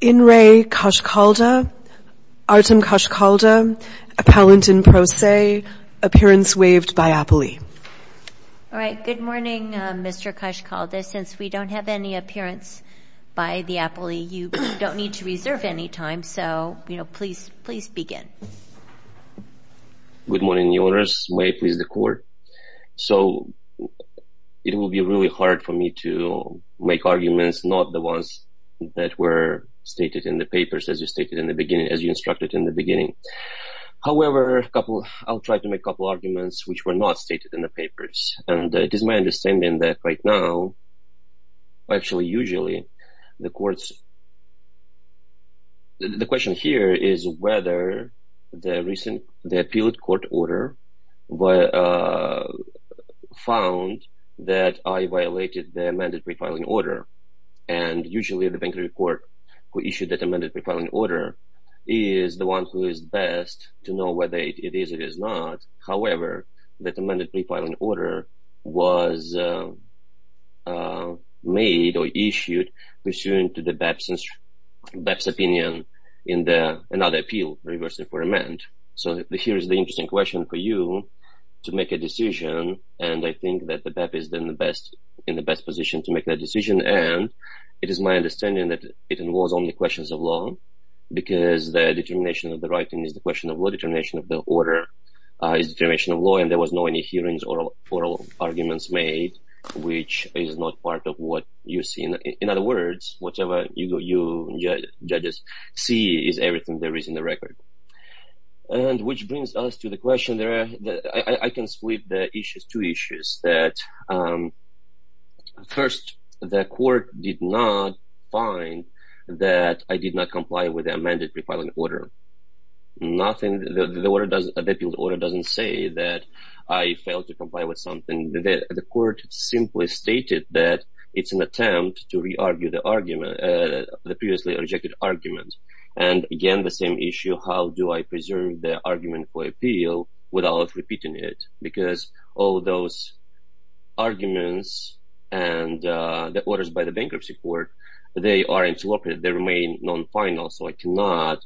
In re. Koshkalda, Artem Koshkalda, Appellant in Pro Se, Appearance waived by Appley. Alright, good morning Mr. Koshkalda. Since we don't have any appearance by the Appley, you don't need to reserve any time, so please begin. Good morning, Your Honours. May it please the Court. So, it will be really hard for me to make arguments not the ones that were stated in the papers as you stated in the beginning, as you instructed in the beginning. However, I'll try to make a couple arguments which were not stated in the papers. And it is my understanding that right now, actually, usually, the Court's... The question here is whether the recent, the appealed court order found that I violated the amended pre-filing order. And usually, the bank report who issued that amended pre-filing order is the one who is best to know whether it is or is not. However, that amended pre-filing order was made or issued pursuant to the BAP's opinion in another appeal, reversing for amend. So, here is the interesting question for you to make a decision. And I think that the BAP is in the best position to make that decision. And it is my understanding that it involves only questions of law because the determination of the writing is the question of law determination of the order. Determination of law and there was no any hearings or oral arguments made which is not part of what you see. In other words, whatever you, judges, see is everything there is in the record. And which brings us to the question there. I can split the issues, two issues that... First, the Court did not find that I did not comply with the amended pre-filing order. Nothing, the order doesn't, the appeal order doesn't say that I failed to comply with something. The Court simply stated that it's an attempt to re-argue the argument, the previously rejected argument. And again, the same issue, how do I preserve the argument for appeal without repeating it? Because all those arguments and the orders by the Bankruptcy Court, they are interrupted, they remain non-final. So I cannot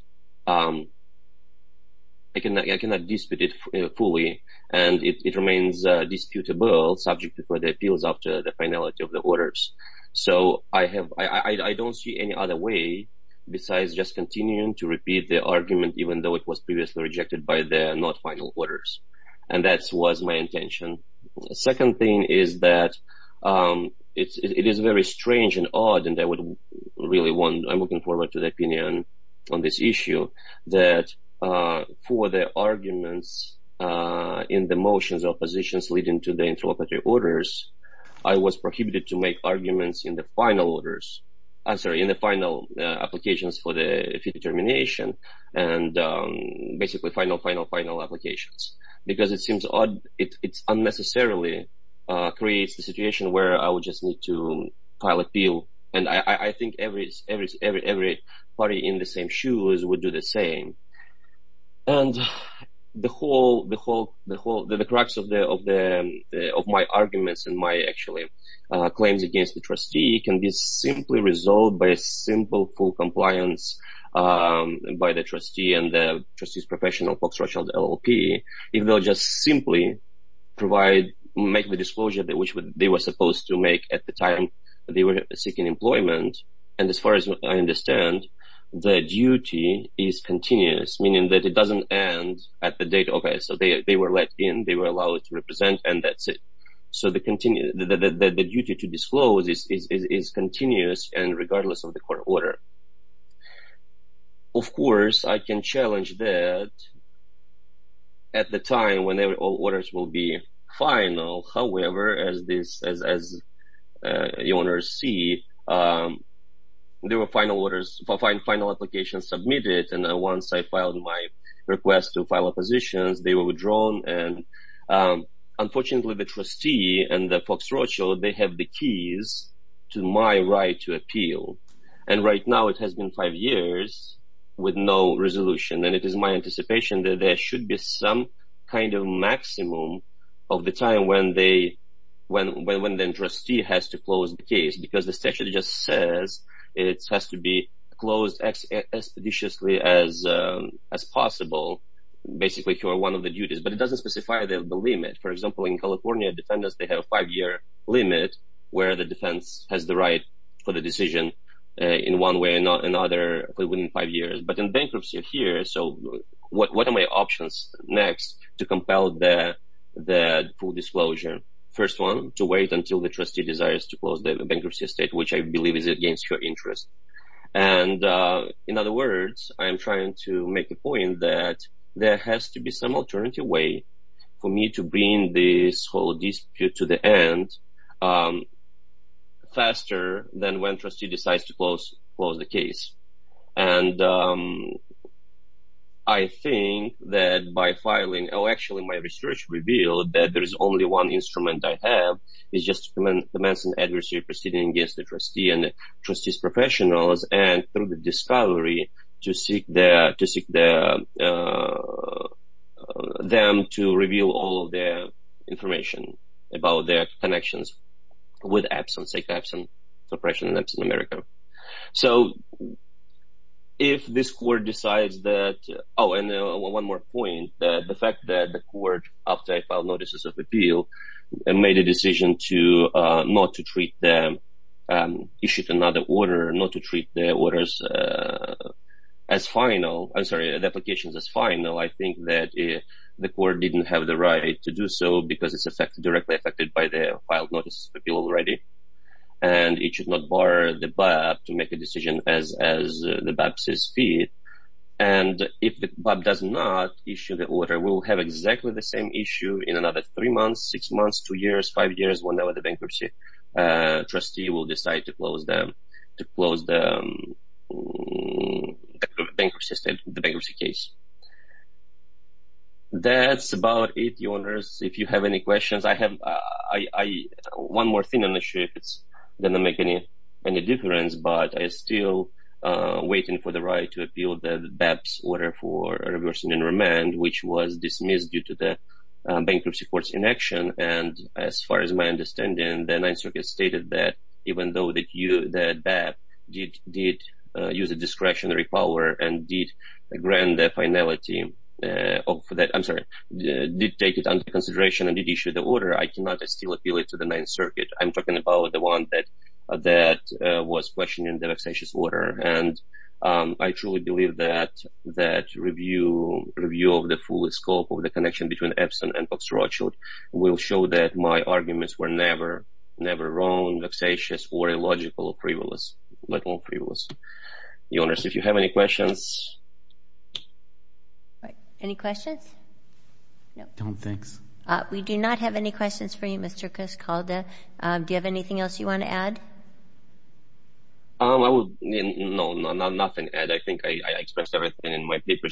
dispute it fully. And it remains disputable subject to the appeals after the finality of the orders. So I don't see any other way besides just continuing to repeat the argument even though it was previously rejected by the not final orders. And that was my intention. The second thing is that it is very strange and odd and I would really want, I'm looking forward to the opinion on this issue. That for the arguments in the motions of positions leading to the interoperative orders, I was prohibited to make arguments in the final orders. I'm sorry, in the final applications for the fee determination. And basically final, final, final applications. Because it seems odd, it unnecessarily creates the situation where I would just need to file appeal. And I think every party in the same shoes would do the same. And the whole, the whole, the whole, the crux of the, of the, of my arguments and my actually claims against the trustee can be simply resolved by a simple full compliance by the trustee and the trustee's professional, Fox Rothschild LLP. Even though just simply provide, make the disclosure that which they were supposed to make at the time they were seeking employment. And as far as I understand, the duty is continuous, meaning that it doesn't end at the date. Okay, so they were let in, they were allowed to represent and that's it. So the duty to disclose is continuous and regardless of the court order. Of course, I can challenge that at the time whenever all orders will be final. However, as this, as, as you want to see, there were final orders, final applications submitted. And once I filed my request to file oppositions, they were withdrawn. And unfortunately, the trustee and the Fox Rothschild, they have the keys to my right to appeal. And right now it has been five years with no resolution. And it is my anticipation that there should be some kind of maximum of the time when they, when the trustee has to close the case. Because the statute just says it has to be closed expeditiously as possible. Basically, you are one of the duties, but it doesn't specify the limit. For example, in California defendants, they have a five-year limit where the defense has the right for the decision in one way or another within five years. But in bankruptcy here, so what are my options next to compel the full disclosure? First one, to wait until the trustee desires to close the bankruptcy estate, which I believe is against your interest. And in other words, I'm trying to make a point that there has to be some alternative way for me to bring this whole dispute to the end faster than when trustee decides to close the case. And I think that by filing, oh, actually my research revealed that there is only one instrument I have. It's just to commence an adversary proceeding against the trustee and the trustee's professionals and through the discovery to seek them to reveal all of their information about their connections with Epson, say Epson suppression in Epson, America. So if this court decides that, oh, and one more point, the fact that the court, after I filed notices of appeal, made a decision to not to treat them, issued another order not to treat their orders as final, I'm sorry, the applications as final, I think that the court didn't have the right to do so because it's directly affected by the filed notices of appeal already. And it should not bar the BAP to make a decision as the BAP says fit. And if the BAP does not issue the order, we'll have exactly the same issue in another three months, six months, two years, five years, whenever the bankruptcy trustee will decide to close the bankruptcy case. That's about it, Your Honors. If you have any questions, I have one more thing on the ship. It's not going to make any difference, but I'm still waiting for the right to appeal the BAP's order for reversing and remand, which was dismissed due to the bankruptcy court's inaction. And as far as my understanding, the Ninth Circuit stated that even though the BAP did use a discretionary power and did grant the finality of that, I'm sorry, did take it under consideration and did issue the order, I cannot still appeal it to the Ninth Circuit. I'm talking about the one that was questioning the vexatious order. And I truly believe that that review of the full scope of the connection between Epson and Fox Rothschild will show that my arguments were never wrong, vexatious, or illogical or frivolous, let alone frivolous. Your Honors, if you have any questions. Any questions? We do not have any questions for you, Mr. Cascalda. Do you have anything else you want to add? No, nothing. I think I expressed everything in my paper.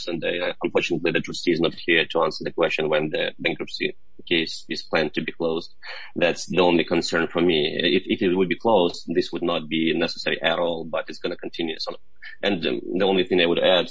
Unfortunately, the trustee is not here to answer the question when the bankruptcy case is planned to be closed. That's the only concern for me. If it would be closed, this would not be necessary at all, but it's going to continue. The only thing I would add,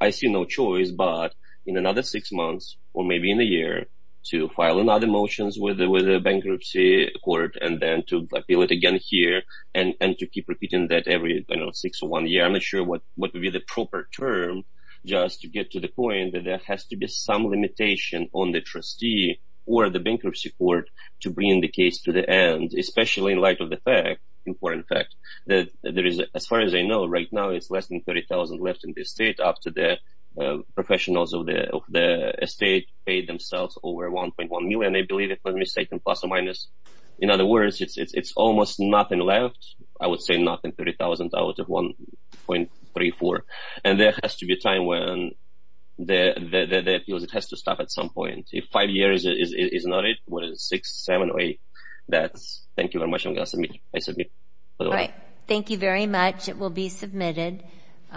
I see no choice but in another six months or maybe in a year to file another motion with the bankruptcy court and then to appeal it again here and to keep repeating that every six or one year. I'm not sure what would be the proper term just to get to the point that there has to be some limitation on the trustee or the bankruptcy court to bring the case to the end. Especially in light of the fact, important fact, that there is, as far as I know right now, it's less than $30,000 left in the estate after the professionals of the estate paid themselves over $1.1 million. In other words, it's almost nothing left. I would say nothing, $30,000 out of $1.34 million. There has to be a time when the appeals, it has to stop at some point. If five years is not it, six, seven, eight, that's it. Thank you very much. I'm going to submit it. Thank you very much. It will be submitted.